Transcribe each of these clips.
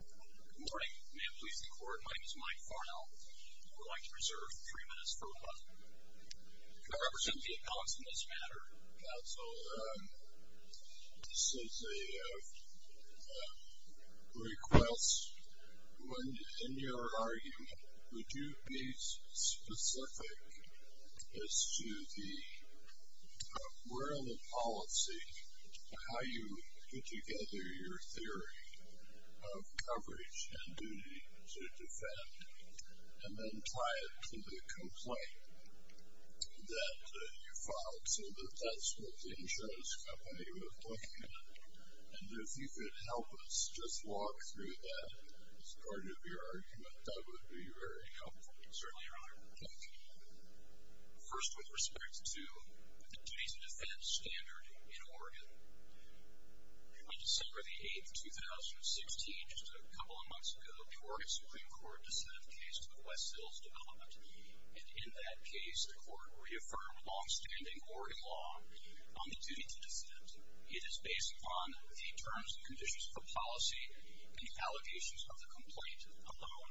Good morning. May it please the court, my name is Mike Farnell. I would like to reserve three minutes for rebuttal. Can I represent the appellants in this matter? Counsel, this is a request. In your argument, would you be specific as to the world of policy, how you put together your theory of coverage and duty to defend, and then tie it to the complaint that you filed? Counsel, that's what the insurance company was looking at, and if you could help us just walk through that as part of your argument, that would be very helpful. Certainly, Your Honor. Thank you. First, with respect to the duty to defend standard in Oregon, on December the 8th, 2016, just a couple of months ago, the Oregon Supreme Court descended the case to the West Hills Development. And in that case, the court reaffirmed longstanding Oregon law on the duty to defend. It is based upon the terms and conditions of the policy and the allegations of the complaint alone.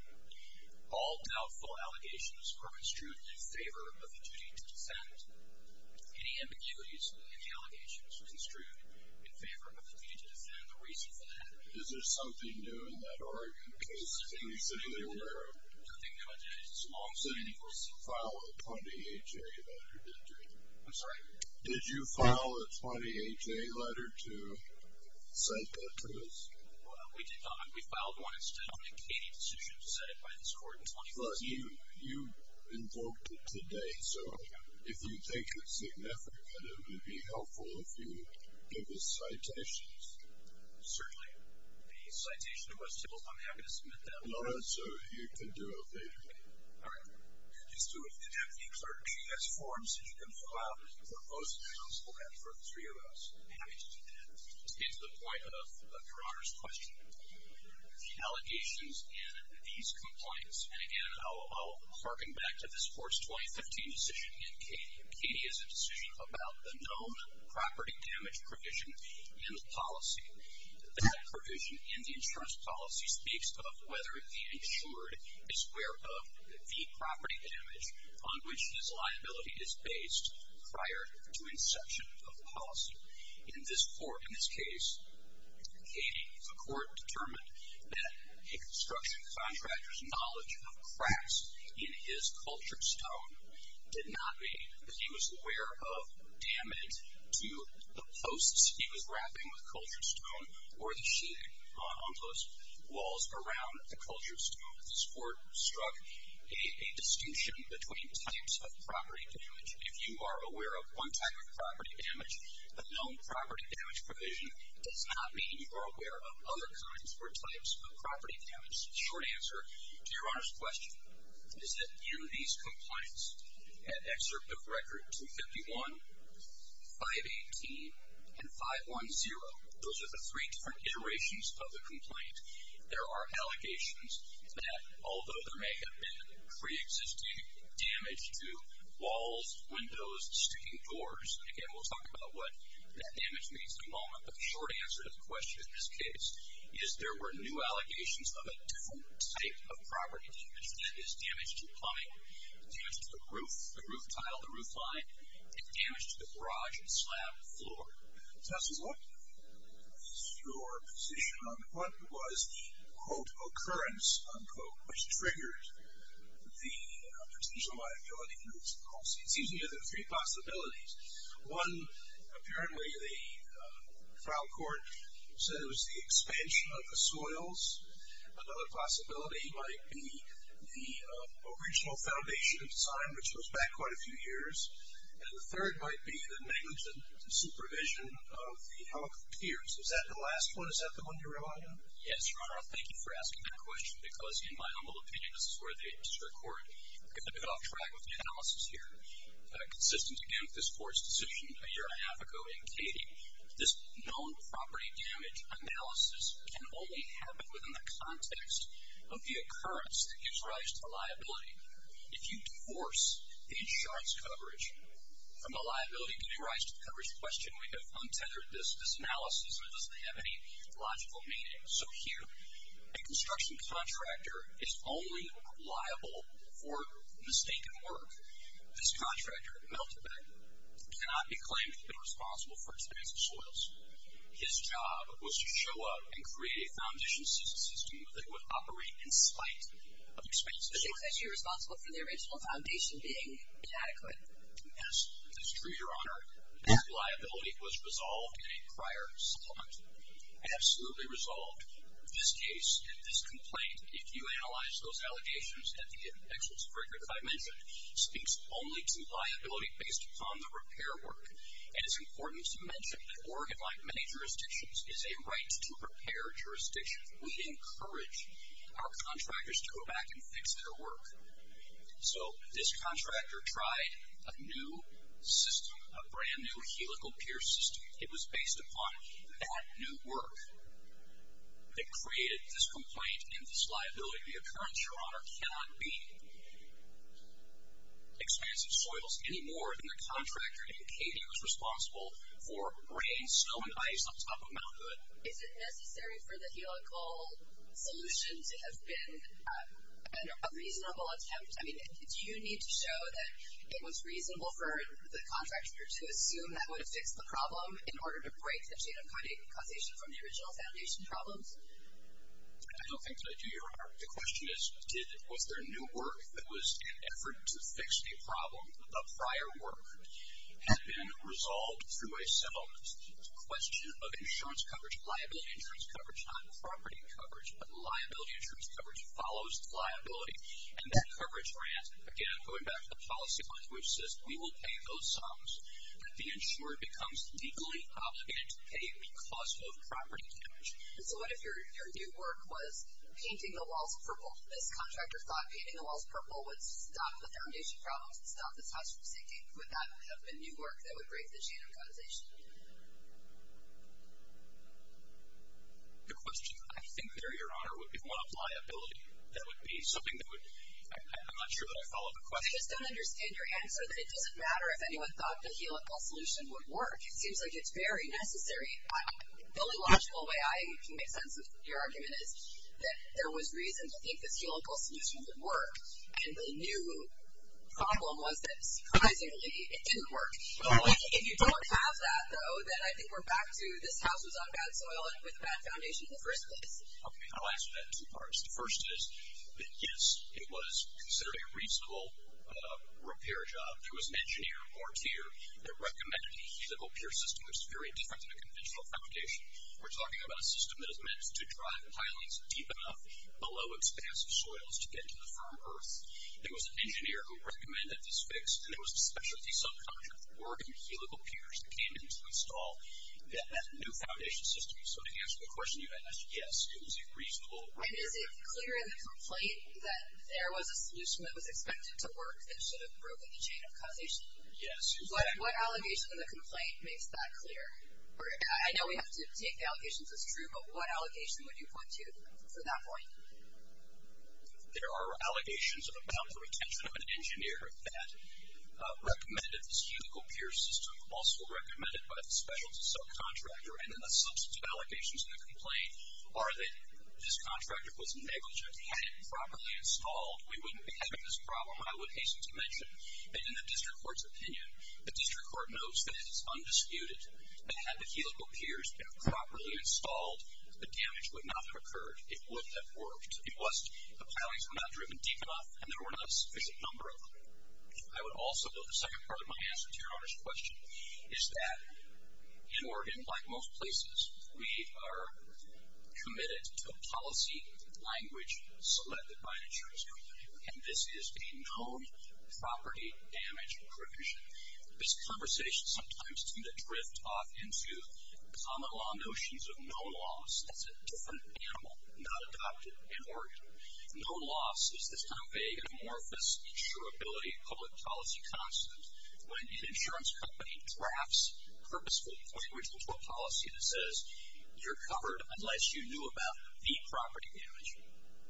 All doubtful allegations were construed in favor of the duty to defend. Any ambiguities in the allegations were construed in favor of the duty to defend. The reason for that? Is there something new in that argument? I don't think there was anything new in that argument. Did you file a 20-H-A letter, did you? I'm sorry? Did you file a 20-H-A letter to cite that to us? We did not. We filed one instead on a Katie decision set by this court in 2016. But you invoked it today, so if you take it significant, it would be helpful if you give us citations. Certainly. The citation was simple. I'm happy to submit that. No, no, sir. You can do it later. All right. Just do an empty clerk. She has forms that you can fill out for both counsel and for the three of us. I'm happy to do that. To get to the point of Your Honor's question, the allegations in these complaints, and again, I'll harken back to this court's 2015 decision in Katie. Katie is a decision about a known property damage provision in the policy. That provision in the insurance policy speaks of whether the insured is aware of the property damage on which this liability is based prior to inception of the policy. In this court, in this case, Katie, the court determined that a construction contractor's knowledge of cracks in his cultured stone did not mean that he was aware of damage to the posts he was wrapping with cultured stone or the sheeting on those walls around the cultured stone. This court struck a distinction between types of property damage. If you are aware of one type of property damage, a known property damage provision does not mean you are aware of other kinds or types of property damage. The short answer to Your Honor's question is that in these complaints at Excerpt of Record 251, 518, and 510, those are the three different iterations of the complaint, there are allegations that although there may have been preexisting damage to walls, windows, sticking doors, again, we'll talk about what that damage means in a moment, but the short answer to the question in this case is there were new allegations of a different type of property damage that is damage to plumbing, damage to the roof, the roof tile, the roof line, and damage to the garage slab floor. Justice, what is your position on what was the, quote, occurrence, unquote, which triggered the potential liability for this policy? It seems to me there are three possibilities. One, apparently the trial court said it was the expansion of the soils. Another possibility might be the original foundation of design, which goes back quite a few years. And the third might be the negligent supervision of the health tiers. Is that the last one? Is that the one you're relying on? Yes, Your Honor. I'll thank you for asking that question because in my humble opinion, this is where the extra court is going to be off track with the analysis here. Consistent, again, with this court's decision a year and a half ago in Katy, this known property damage analysis can only happen within the context of the occurrence that gives rise to the liability. If you divorce the insurance coverage from the liability giving rise to the coverage question, we have untethered this analysis, and it doesn't have any logical meaning. So here, a construction contractor is only liable for mistaken work. This contractor, Meltebek, cannot be claimed to have been responsible for expansion of soils. His job was to show up and create a foundation system that would operate in spite of expansion of soils. So he thinks that you're responsible for the original foundation being inadequate. Yes, that's true, Your Honor. That liability was resolved in a prior settlement. Absolutely resolved. This case, this complaint, if you analyze those allegations at the experts' break, as I mentioned, speaks only to liability based upon the repair work. And it's important to mention that Oregon, like many jurisdictions, is a right-to-repair jurisdiction. We encourage our contractors to go back and fix their work. So this contractor tried a new system, a brand-new helical pier system. It was based upon that new work that created this complaint and this liability. The occurrence, Your Honor, cannot be expansive soils any more than the contractor in Cady was responsible for raining snow and ice on top of Mount Hood. Is it necessary for the helical solution to have been a reasonable attempt? I mean, do you need to show that it was reasonable for the contractor to assume that would fix the problem in order to break the chain of causation from the original foundation problems? I don't think that I do, Your Honor. The question is, was there new work that was an effort to fix a problem? A prior work had been resolved through a settlement. It's a question of insurance coverage, liability insurance coverage, not property coverage, but liability insurance coverage follows liability. And that coverage grant, again, going back to the policy point, which says we will pay those sums, but the insurer becomes legally obligated to pay because of property damage. So what if your new work was painting the walls purple? This contractor thought painting the walls purple would stop the foundation problems, stop this house from sinking. Would that have been new work that would break the chain of causation? The question, I think there, Your Honor, would be what a liability that would be, something that would, I'm not sure that I follow the question. I just don't understand your answer that it doesn't matter if anyone thought the helical solution would work. It seems like it's very necessary. The only logical way I can make sense of your argument is that there was reason to think this helical solution would work, and the new problem was that, surprisingly, it didn't work. If you don't have that, though, then I think we're back to this house was on bad soil with a bad foundation in the first place. Okay. I'll answer that in two parts. The first is that, yes, it was considered a reasonable repair job. There was an engineer or tier that recommended a helical pier system that was very different than a conventional foundation. We're talking about a system that is meant to drive pilings deep enough below expansive soils to get to the firm earth. There was an engineer who recommended this fix, and it was a specialty subcontractor working helical piers that came in to install that new foundation system. So to answer the question you had asked, yes, it was a reasonable repair job. And is it clear in the complaint that there was a solution that was expected to work that should have broken the chain of causation? Yes. What allegation in the complaint makes that clear? I know we have to take the allegation if it's true, but what allegation would you point to for that point? There are allegations of a counterintention of an engineer that recommended this helical pier system, also recommended by the specialty subcontractor, and then the substitute allegations in the complaint are that this contractor was negligent. Had it properly installed, we wouldn't be having this problem. I would hasten to mention that in the district court's opinion, the district court notes that it is undisputed that had the helical piers been properly installed, the damage would not have occurred. It would have worked. It was the pilings were not driven deep enough, and there were not a sufficient number of them. I would also note the second part of my answer to your honest question is that in Oregon, like most places, we are committed to a policy language selected by the insurance company, and this is a known property damage provision. This conversation sometimes tends to drift off into common law notions of known loss. That's a different animal, not adopted in Oregon. Known loss is this kind of vague and amorphous insurability public policy concept when an insurance company drafts purposefully language into a policy that says, you're covered unless you knew about the property damage,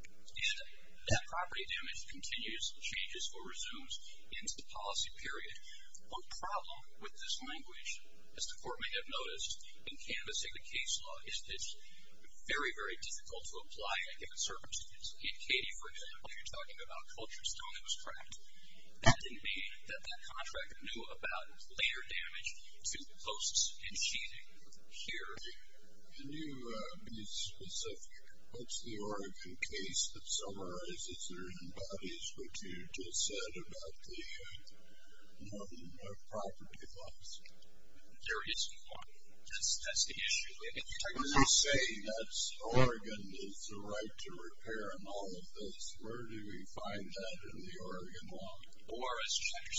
and that property damage continues, changes, or resumes into the policy period. One problem with this language, as the court may have noticed in canvassing the case law, is that it's very, very difficult to apply a given circumstance. In Katie, for example, if you're talking about culture stone, it was cracked. That didn't mean that that contract knew about later damage to posts and sheeting. Here. Can you be specific? What's the Oregon case that summarizes or embodies what you just said about the known property loss? There is one. That's the issue. When you say that Oregon is the right to repair and all of this, where do we find that in the Oregon law? ORS Chapter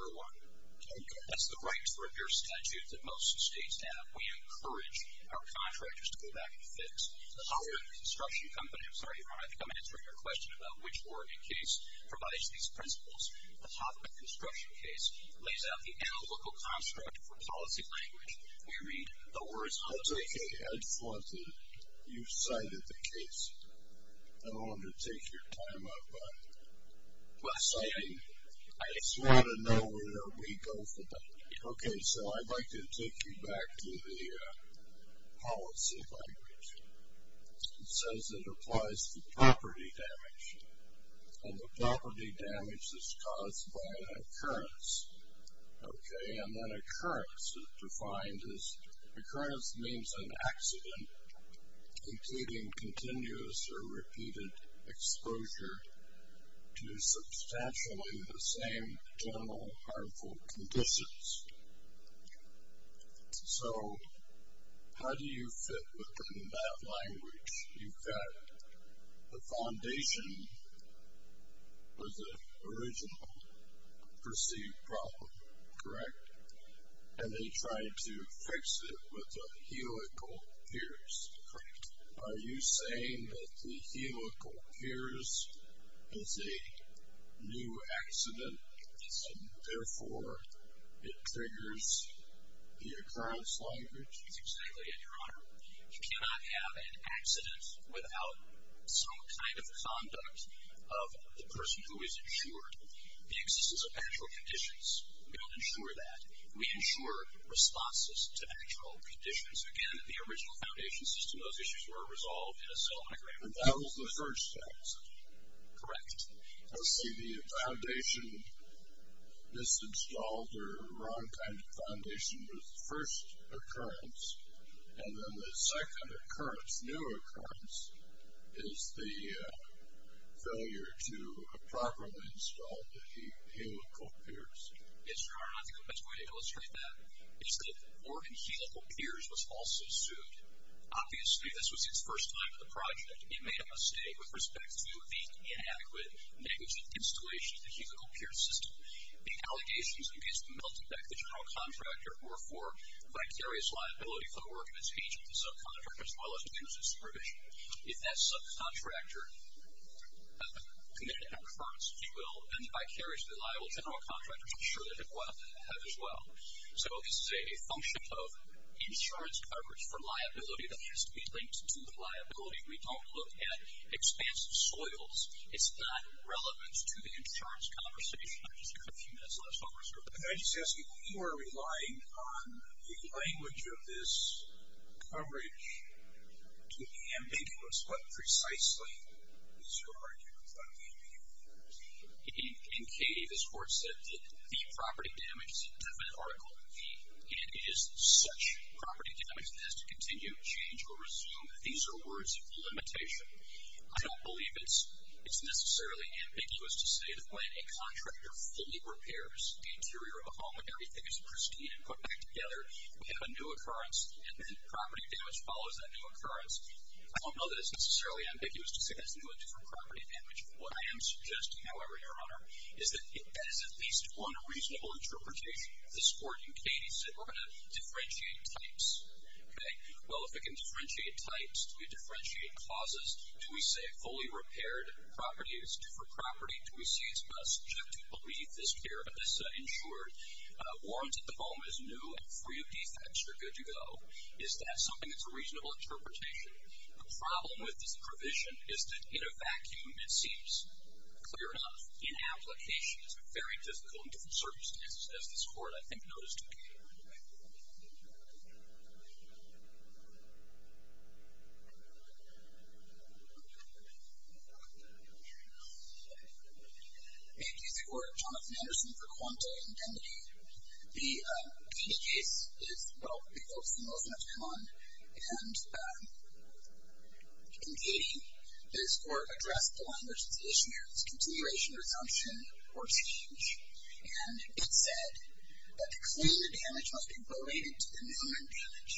701. Okay. That's the right to repair statute that most states have. We encourage our contractors to go back and fix. The top of a construction company, I'm sorry, I'm answering your question about which Oregon case provides these principles. The top of a construction case lays out the analytical construct for policy language. I'll take a head start that you've cited the case. I don't want to take your time up, but I just want to know where we go from there. Okay. So I'd like to take you back to the policy language. It says it applies to property damage. And the property damage is caused by an occurrence. Okay. And then occurrence is defined as occurrence means an accident, including continuous or repeated exposure to substantially the same general harmful conditions. So how do you fit within that language? You've got the foundation for the original perceived problem, correct? And they tried to fix it with a helical pierce. Correct. Are you saying that the helical pierce is a new accident, and therefore it triggers the occurrence language? That's exactly it, Your Honor. You cannot have an accident without some kind of conduct of the person who has insured the existence of actual conditions. We don't insure that. We insure responses to actual conditions. Again, the original foundation system, those issues were resolved in a settlement agreement. And that was the first step. Correct. Okay. The foundation, this installed or wrong kind of foundation was first occurrence, and then the second occurrence, new occurrence, is the failure to properly install the helical pierce. Yes, Your Honor. I think the best way to illustrate that is that Oregon helical pierce was also sued. Obviously, this was his first time at the project. He made a mistake with respect to the inadequate, negligent installation of the helical pierce system. The allegations against the Melted Deck, the general contractor, were for vicarious liability for the work of its agent, the subcontractor, as well as the incident supervision. If that subcontractor committed an occurrence, he will, and the vicariously liable general contractor, I'm sure they have as well. So this is a function of insurance coverage for liability that has to be linked to liability. We don't look at expansive soils. It's not relevant to the insurance conversation. Can I just ask you, you are relying on the language of this coverage to be ambiguous. What precisely is your argument about the ambiguity? In Katie, this Court said that the property damage is an indefinite article, and it is such property damage that it has to continue, change, or resume. These are words of limitation. I don't believe it's necessarily ambiguous to say that when a contractor fully repairs the interior of a home and everything is pristine and put back together, we have a new occurrence, and then property damage follows that new occurrence. I don't know that it's necessarily ambiguous to say that's new or different property damage. What I am suggesting, however, Your Honor, is that that is at least one reasonable interpretation of this Court. And Katie said we're going to differentiate types. Well, if we can differentiate types, do we differentiate causes? Do we say fully repaired property is due for property? Do we say it's best just to believe this care, this insured warrant at the home is new and free of defects, you're good to go? Is that something that's a reasonable interpretation? The problem with this provision is that in a vacuum, it seems clear enough. In application, it's very difficult in different circumstances, as this Court, I think, noticed in Katie. Thank you. Thank you. This is the Court of Jonathan Anderson for Quanta and Kennedy. The Katie case is, well, evokes the notion of con, and in Katie, this Court addressed the language that's the issue here, which is continuation, resumption, or change. And it said that to claim the damage must be related to the new and damage,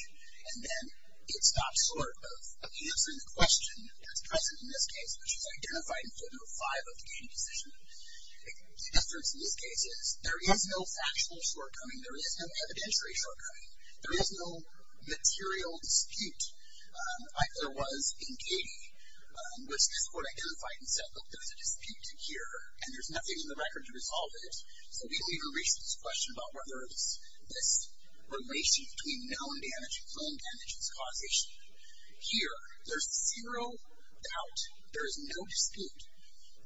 and then it's not short of answering the question that's present in this case, which is identified in photo five of the Katie decision. The difference in this case is there is no factual shortcoming. There is no evidentiary shortcoming. There is no material dispute like there was in Katie, which this Court identified and said, look, there's a dispute in here, and there's nothing in the record to resolve it. So we leave a racist question about whether this relation between known damage and claimed damage is causation. Here, there's zero doubt. There is no dispute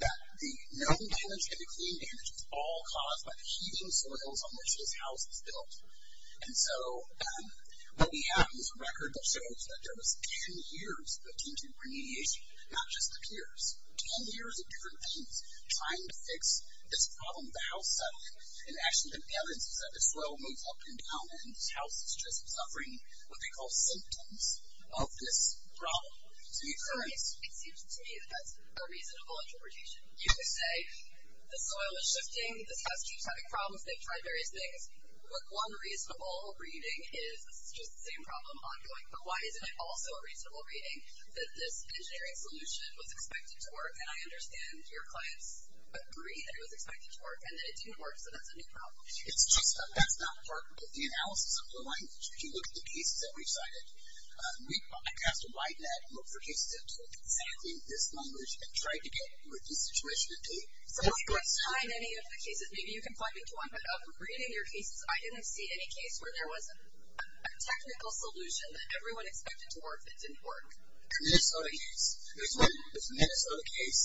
that the known damage and the claimed damage is all caused by the heating soils on which this house is built. And so what we have is a record that shows that there was 10 years of contingent remediation, not just the peers. 10 years of different things trying to fix this problem of the house setting. And actually, the evidence is that the soil moves up and down, and this house is just suffering what they call symptoms of this problem. It's an occurrence. It seems to me that that's a reasonable interpretation. You could say the soil is shifting, this house keeps having problems, they've tried various things. One reasonable reading is this is just the same problem ongoing, but why isn't it also a reasonable reading that this engineering solution was expected to work, and I understand your clients agree that it was expected to work and that it didn't work, so that's a new problem. It's just that that's not part of the analysis of the language. If you look at the cases that we cited, we passed a wide net of cases that took exactly this language and tried to get the situation to take. So if you want to tie in any of the cases, maybe you can plug into one, but of reading your cases, I didn't see any case where there was a technical solution that everyone expected to work that didn't work. The Minnesota case. There's one Minnesota case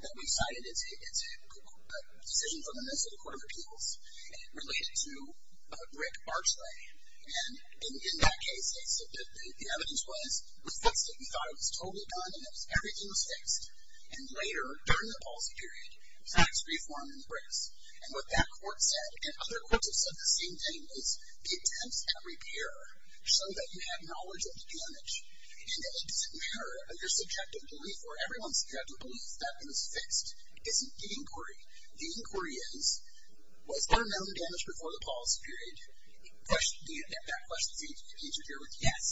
that we cited. It's a decision from the Minnesota Court of Appeals, and it related to a brick archway. And in that case, the evidence was the fix that we thought was totally done, and everything was fixed, and later, during the policy period, we saw this reform in the bricks. And what that court said, and other courts have said the same thing, is the attempts at repair show that you have knowledge of the damage and that it doesn't matter under subjective belief, or everyone's subjective belief that it was fixed. It's the inquiry. The inquiry is, was there metal damage before the policy period? That question seems to interfere with yes.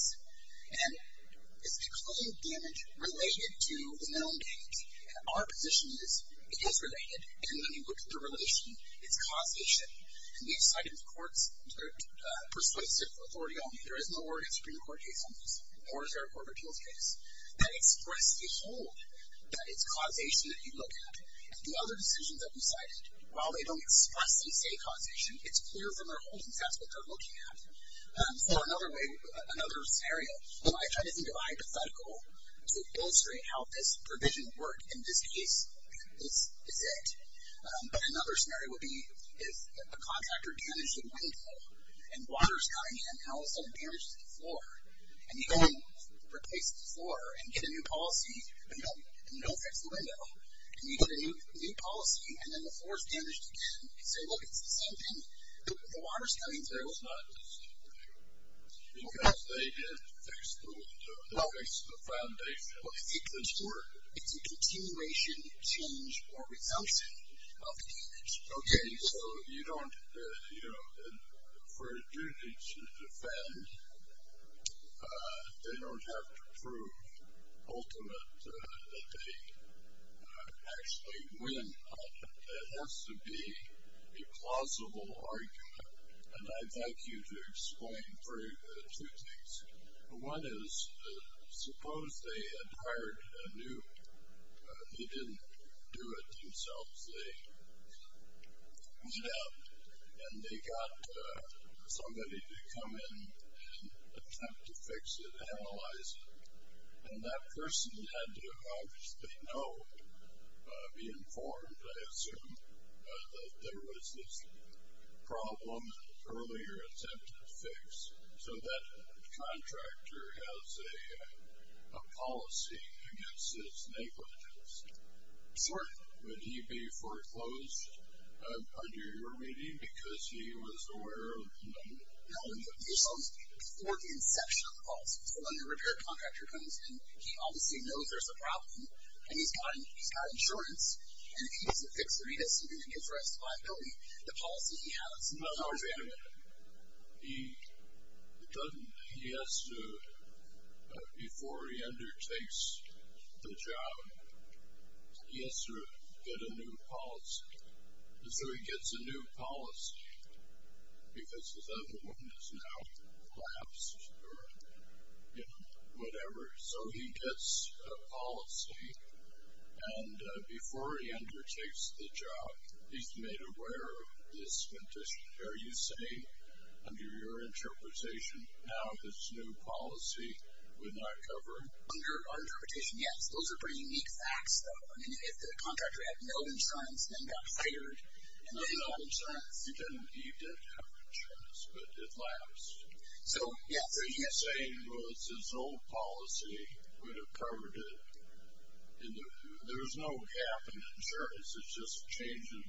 And is the claim of damage related to the metal damage? Our position is it is related, and when you look at the relation, it's causation. And we've cited courts that are persuasive authority only. There is no Oregon Supreme Court case on this, nor is there a Court of Appeals case that expressed the hold that it's causation that you look at. The other decisions that we cited, while they don't expressly say causation, it's clear from their holdings that's what they're looking at. For another scenario, I try to think of it hypothetical to illustrate how this provision worked in this case. This is it. But another scenario would be if a contractor damaged a window and water is coming in, and all of a sudden damages the floor, and you go and replace the floor and get a new policy and no fix to the window, and you get a new policy and then the floor is damaged again, you say, look, it's the same thing. The water is coming through. It's not the same thing. Because they didn't fix the window. They fixed the foundation. It's a continuation, change, or outcome of damage. Okay. So you don't, you know, for a duty to defend, they don't have to prove ultimate that they actually win. It has to be a plausible argument. And I'd like you to explain two things. One is suppose they had hired a new, they didn't do it themselves. They went out and they got somebody to come in and attempt to fix it, analyze it. And that person had to obviously know, be informed, I assume, that there was this problem, earlier attempt to fix. So that contractor has a policy against his negligence. Sort of. Would he be foreclosed under your reading because he was aware of the number? No, before the inception of the policy. So when the repair contractor comes in, he obviously knows there's a problem, and he's got insurance, and if he doesn't fix the windows, he doesn't get the rest of the liability. The policy he has. He doesn't. He has to, before he undertakes the job, he has to get a new policy. And so he gets a new policy because his other one is now collapsed or, you know, whatever. So he gets a policy, and before he undertakes the job, he's made aware of this condition. Are you saying, under your interpretation, now his new policy would not cover him? Under our interpretation, yes. Those are pretty unique facts, though. I mean, if the contractor had no insurance and then got fired. No, no. He did have insurance, but it lapsed. So, yeah. What you're saying was his old policy would have covered it. There was no gap in insurance. It's just a change in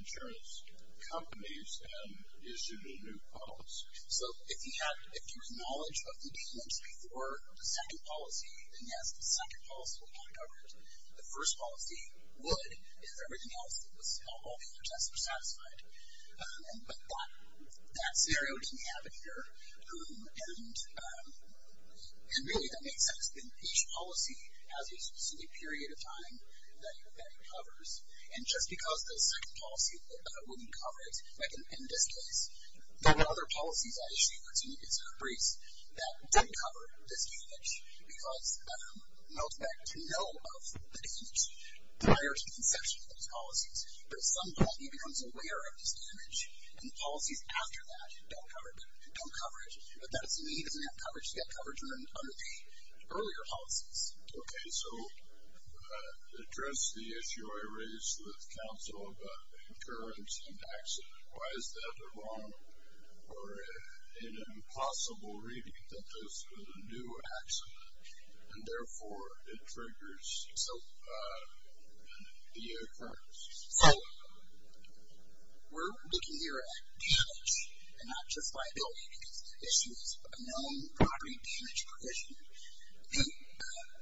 insurance companies and issued a new policy. So if he had, if he was knowledge of the demands before the second policy, then, yes, the second policy would not cover it. The first policy would if everything else that was involved in the process were satisfied. But that scenario didn't have it here. And really, that makes sense. Each policy has a specific period of time that it covers. And just because the second policy wouldn't cover it, like in this case, there were other policies at issue. It's a crease that didn't cover this damage because it melts back to no of the damage prior to the inception of those policies. But at some point, he becomes aware of this damage, and the policies after that don't cover it. But that is the way he doesn't have coverage to get coverage under the earlier policies. Okay, so address the issue I raised with counsel about the occurrence and accident. Why is that the wrong or an impossible reading that this was a new accident, and, therefore, it triggers the occurrence? So we're looking here at damage, and not just liability, because the issue is a known property damage provision. And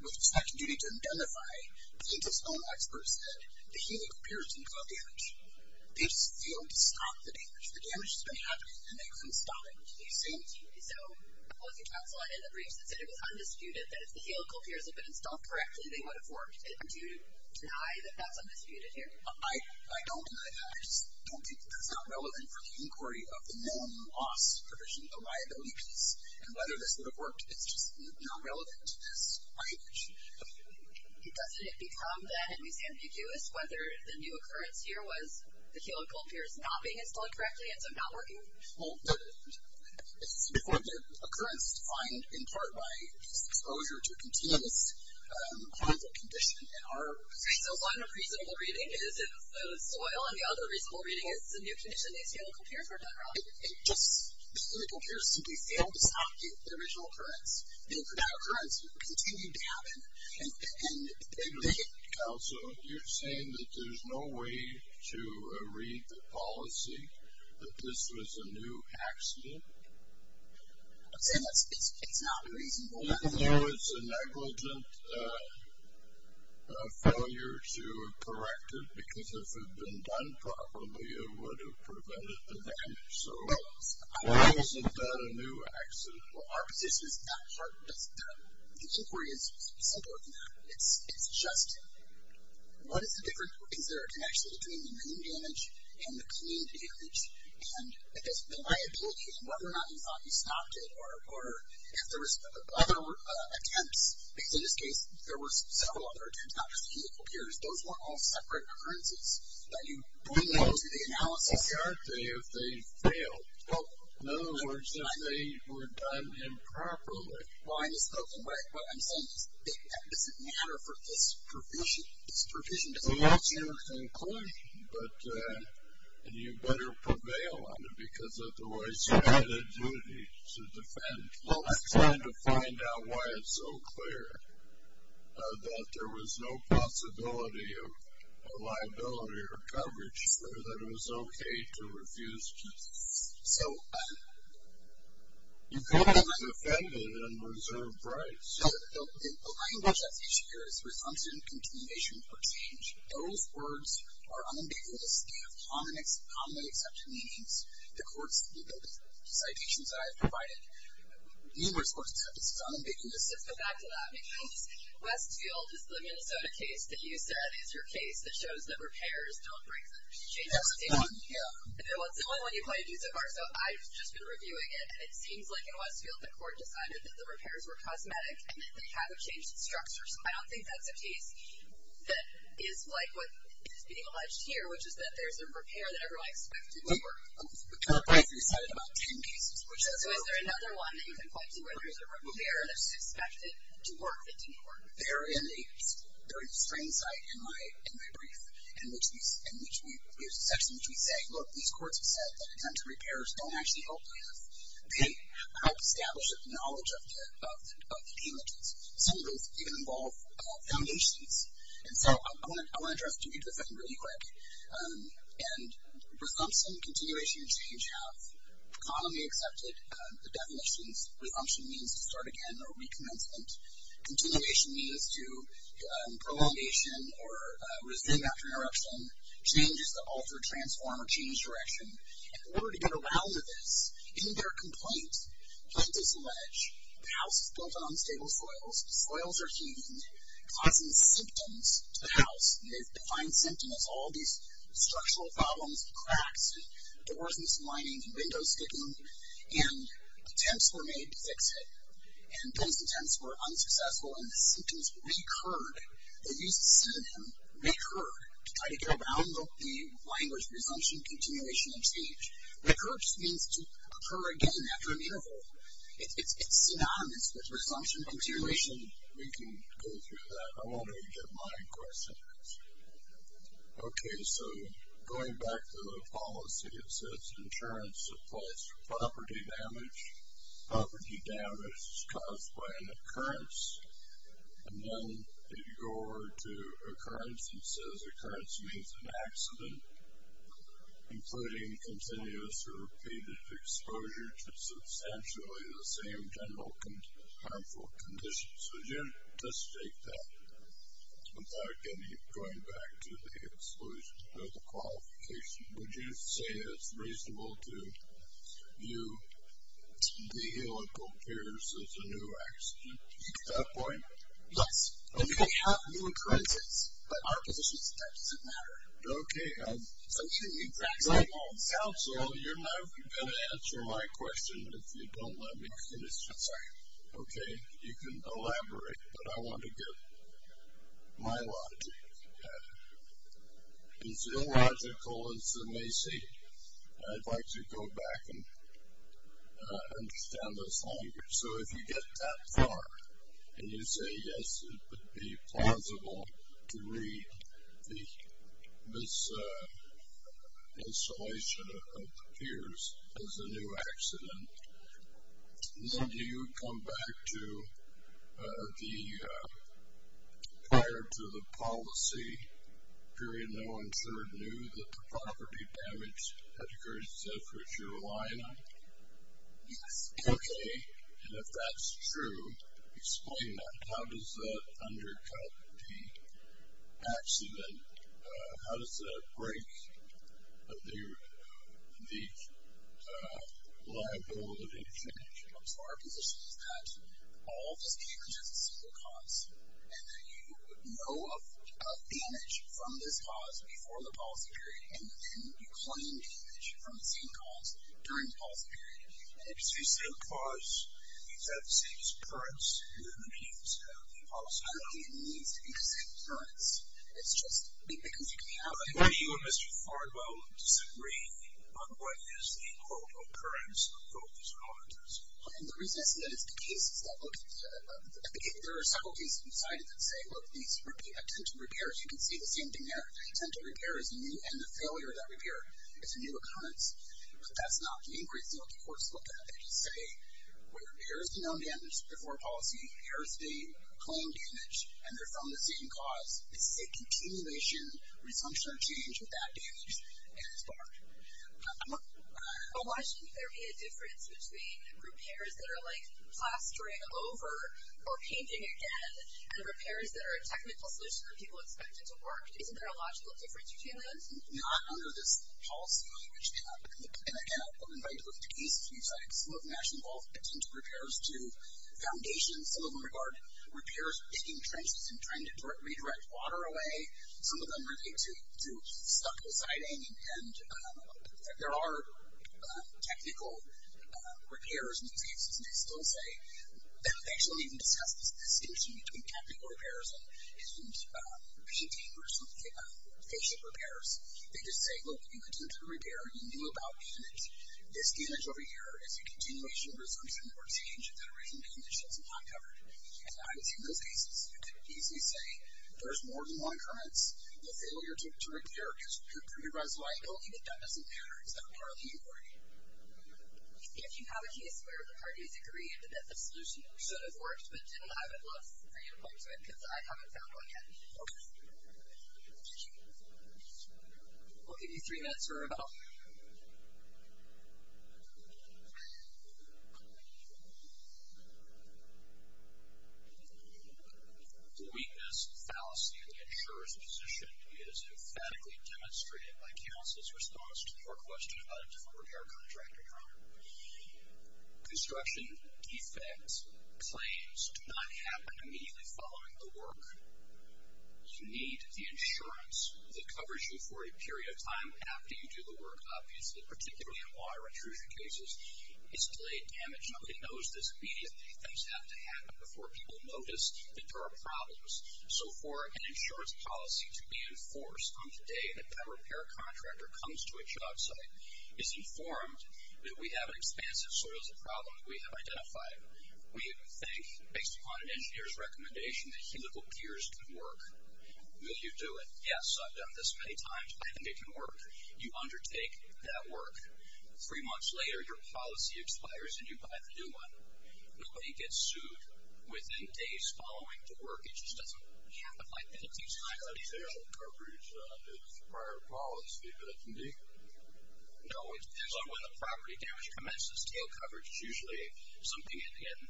with inspection duty to identify, plaintiff's own experts said the helical piers didn't cause damage. They just failed to stop the damage. The damage has been happening, and they couldn't stop it until they assumed. So was your counsel in the briefs that said it was undisputed, that if the helical piers had been installed correctly, they would have worked? Do you deny that that's undisputed here? I don't deny that. I just don't think that that's not relevant for the inquiry of the known loss provision, the liability piece, and whether this would have worked. It's just not relevant to this argument. Okay. Doesn't it become, then, at least ambiguous whether the new occurrence here was the helical piers not being installed correctly, and so not working? Well, it's before the occurrence defined in part by exposure to continuous conflict condition. So one reasonable reading is it was soil, and the other reasonable reading is the new condition, these helical piers were done wrong. It just, the helical piers simply failed to stop the original occurrence. The original occurrence continued to happen. And they didn't. Counsel, you're saying that there's no way to read the policy, that this was a new accident? I'm saying it's not reasonable. Even though it's a negligent failure to correct it, because if it had been done properly, it would have prevented the damage. So why isn't that a new accident? Well, our position is not hard. The inquiry is simpler than that. It's just what is the difference, is there a connection between the new damage and the clean damage, and the liability, and whether or not you thought you stopped it, or if there was other attempts. Because in this case, there were several other attempts, not just the helical piers. Those were all separate occurrences that you bring into the analysis. But why aren't they if they failed? Well, in other words, they were done improperly. Well, what I'm saying is it doesn't matter for this provision. This provision doesn't matter. Well, that's your conclusion. But you better prevail on it, because otherwise you had a duty to defend. I'm trying to find out why it's so clear that there was no possibility of a liability or coverage, or that it was okay to refuse keys. So you could have defended and reserved rights. The language that's issued here is resumptive and continuation for change. Those words are unambiguous. They have commonly accepted meanings. The courts, the citations that I have provided, numerous courts have said this is unambiguous. Let's go back to that. Because Westfield is the Minnesota case that you said is your case that shows that repairs don't break the chain of state. That's the one, yeah. That's the only one you've pointed to so far. So I've just been reviewing it, and it seems like in Westfield the court decided that the repairs were cosmetic, and that they haven't changed the structure. I don't think that's a case that is like what is being alleged here, which is that there's a repair that everyone expected to work. The court previously cited about ten cases. So is there another one that you can point to where there's a repair that's expected to work that didn't work? There is. There is a strange sight in my brief, in which there's a section in which we say, look, these courts have said that attempts at repairs don't actually help us. They help establish a knowledge of the damages. Some of those even involve foundations. And so I want to address to you this one really quick. And resumption, continuation, and change have commonly accepted the definitions. Resumption means to start again or recommencement. Continuation means to prolongation or resume after interruption. Change is to alter, transform, or change direction. In order to get around to this, in their complaint, the house is built on unstable soils. The soils are heating, causing symptoms to the house. And they define symptoms as all these structural problems, cracks, and doors misaligning, and windows sticking. And attempts were made to fix it. And those attempts were unsuccessful, and the symptoms recurred. They used the synonym recur to try to get around the language resumption, continuation, and change. Recurse means to occur again after an interval. It's synonymous with resumption, continuation. We can go through that. I want to get my question answered. Okay, so going back to the policy, it says insurance supplies for property damage. Property damage is caused by an occurrence. And then if you go over to occurrence, it says occurrence means an accident, including continuous or repeated exposure to substantially the same general harmful conditions. Would you just state that without going back to the exclusion or the qualification? Would you say it's reasonable to view the illegal appears as a new accident? Is that a point? Yes. If you have new occurrences, but our position is that doesn't matter. Okay. Counsel, you're not going to answer my question if you don't let me finish. I'm sorry. Okay. You can elaborate, but I want to get my logic. As illogical as it may seem, I'd like to go back and understand this longer. So if you get that far and you say, yes, it would be plausible to read this installation of appears as a new accident. Then do you come back to the prior to the policy period, no one sure knew that the property damage had occurred except for Carolina? Yes. Okay. And if that's true, explain that. How does that undercut the accident? How does that break the liability change? So our position is that all of this came as just a single cause, and that you know of damage from this cause before the policy period, and then you claim damage from the same cause during the policy period. So you say the cause is at the same occurrence during the policy period. I don't think it needs to be the same occurrence. It's just because you can have it. Why do you and Mr. Farnwell disagree on what is the quote occurrence of both these occurrences? The reason I say that is the cases that look at the case. There are several cases inside of it that say, look, these are potential repairs. You can see the same thing there. The potential repair is new, and the failure of that repair is a new occurrence. But that's not the inquiry. So the courts look at it. They just say, repairs do no damage before policy. Repairs do claim damage, and they're from the same cause. They say continuation, resumption of change without damage, and it's barred. Well, why shouldn't there be a difference between repairs that are like plastering over or painting again, and repairs that are a technical solution that people expect it to work? Isn't there a logical difference between those? Not under this policy language. And, again, I'm invited to look at these three sites. Some of them actually involve potential repairs to foundations. Some of them regard repairs picking trenches and trying to redirect water away. Some of them relate to stucco siding. And there are technical repairs in these cases, and they still say, they don't actually even discuss this distinction between technical repairs and patient repairs. They just say, look, you continue to repair. You knew about damage. This damage over here is a continuation, resumption, or change of that original condition. It's not covered. And I would say in those cases, you could easily say there's more than one occurrence. The failure to repair can pre-arise liability, but that doesn't matter. It's not part of the inquiry. If you have a case where the parties agree that the solution should have worked but didn't, I would love for you to point to it because I haven't found one yet. Okay. We'll give you three minutes for a vote. The weakness, fallacy, and insurer's position is emphatically demonstrated by Council's response to your question about a different repair contractor. Construction defects, claims, do not happen immediately following the work. You need the insurance that covers you for a period of time after you do the work. Obviously, particularly in water intrusion cases, it's delayed damage. Nobody knows this immediately. Things have to happen before people notice that there are problems. So for an insurance policy to be enforced on the day that that repair contractor comes to a job site, it's informed that we have an expanse of soils of problems we have identified. We think, based upon an engineer's recommendation, that helical gears can work. Will you do it? Yes, I've done this many times. I think it can work. You undertake that work. Three months later, your policy expires and you buy the new one. Nobody gets sued within days following the work. It just doesn't have the liability time. Is tail coverage a prior policy that can be? No, it depends on when the property damage commences. Tail coverage is usually something that, again,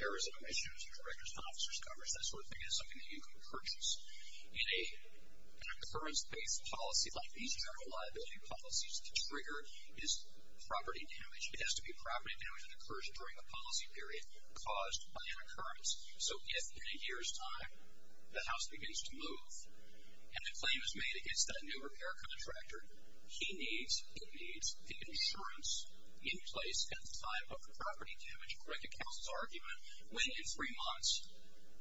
there is a commissioners, directors, officers coverage, that sort of thing. It's something that you can purchase. In a concurrence-based policy like these general liability policies, the trigger is property damage. It has to be property damage that occurs during the policy period caused by an occurrence. So if, in a year's time, the house begins to move and a claim is made against that new repair contractor, he needs, it needs the insurance in place at the time of the property damage. Correct the counsel's argument. When, in three months,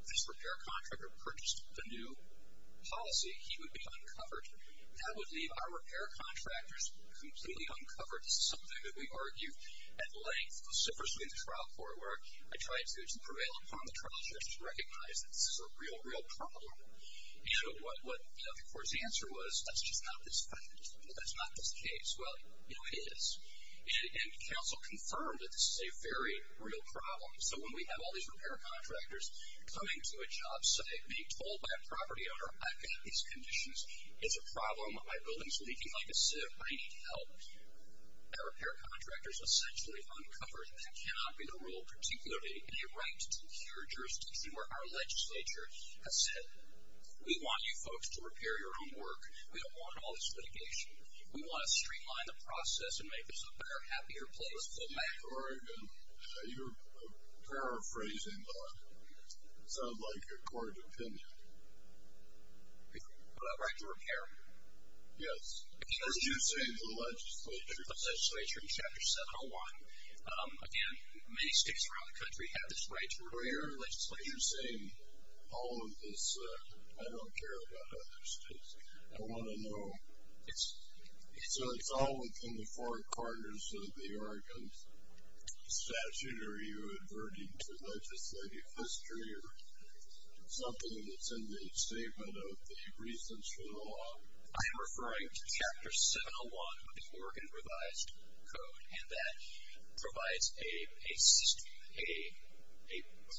this repair contractor purchased the new policy, he would be uncovered. That would leave our repair contractors completely uncovered. This is something that we argue at length. I tried to prevail upon the trial judge to recognize that this is a real, real problem. And what the court's answer was, that's just not this fact. That's not this case. Well, you know, it is. And counsel confirmed that this is a very real problem. So when we have all these repair contractors coming to a job site, being told by a property owner, I've got these conditions. It's a problem. My building is leaking like a sieve. I need help. Our repair contractor is essentially uncovered. That cannot be the rule, particularly in a right to secure jurisdiction where our legislature has said, we want you folks to repair your own work. We don't want all this litigation. We want to streamline the process and make this a better, happier place. All right. You're paraphrasing the, it sounds like a court opinion. What about right to repair? Yes. Because you're saying the legislature. The legislature in Chapter 701. Again, many states around the country have this right to repair. But you're saying all of this, I don't care about other states. I want to know. So it's all within the four corners of the Oregon statute. Are you adverting to legislative history or something that's in the statement of the reasons for the law? I am referring to Chapter 701 of the Oregon Revised Code. And that provides a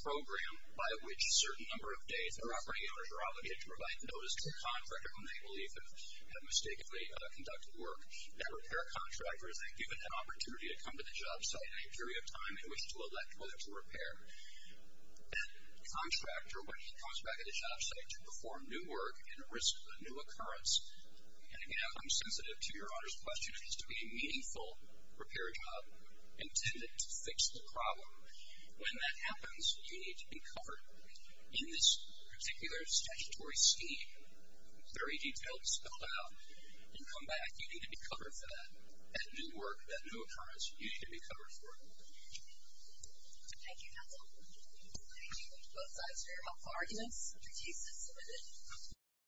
program by which a certain number of days, their operating owners are obligated to provide notice to a contractor when they believe they have mistakenly conducted work. That repair contractor is then given an opportunity to come to the job site in a period of time in which to elect whether to repair. That contractor, when he comes back at the job site to perform new work and risk a new occurrence. And, again, I'm sensitive to your Honor's question. It has to be a meaningful repair job intended to fix the problem. When that happens, you need to be covered. In this particular statutory scheme, very detailed, spelled out, you come back, you need to be covered for that, that new work, that new occurrence. You need to be covered for it. Thank you, counsel. Thank you. Both sides, very helpful arguments. Thank you. Thank you. Thank you.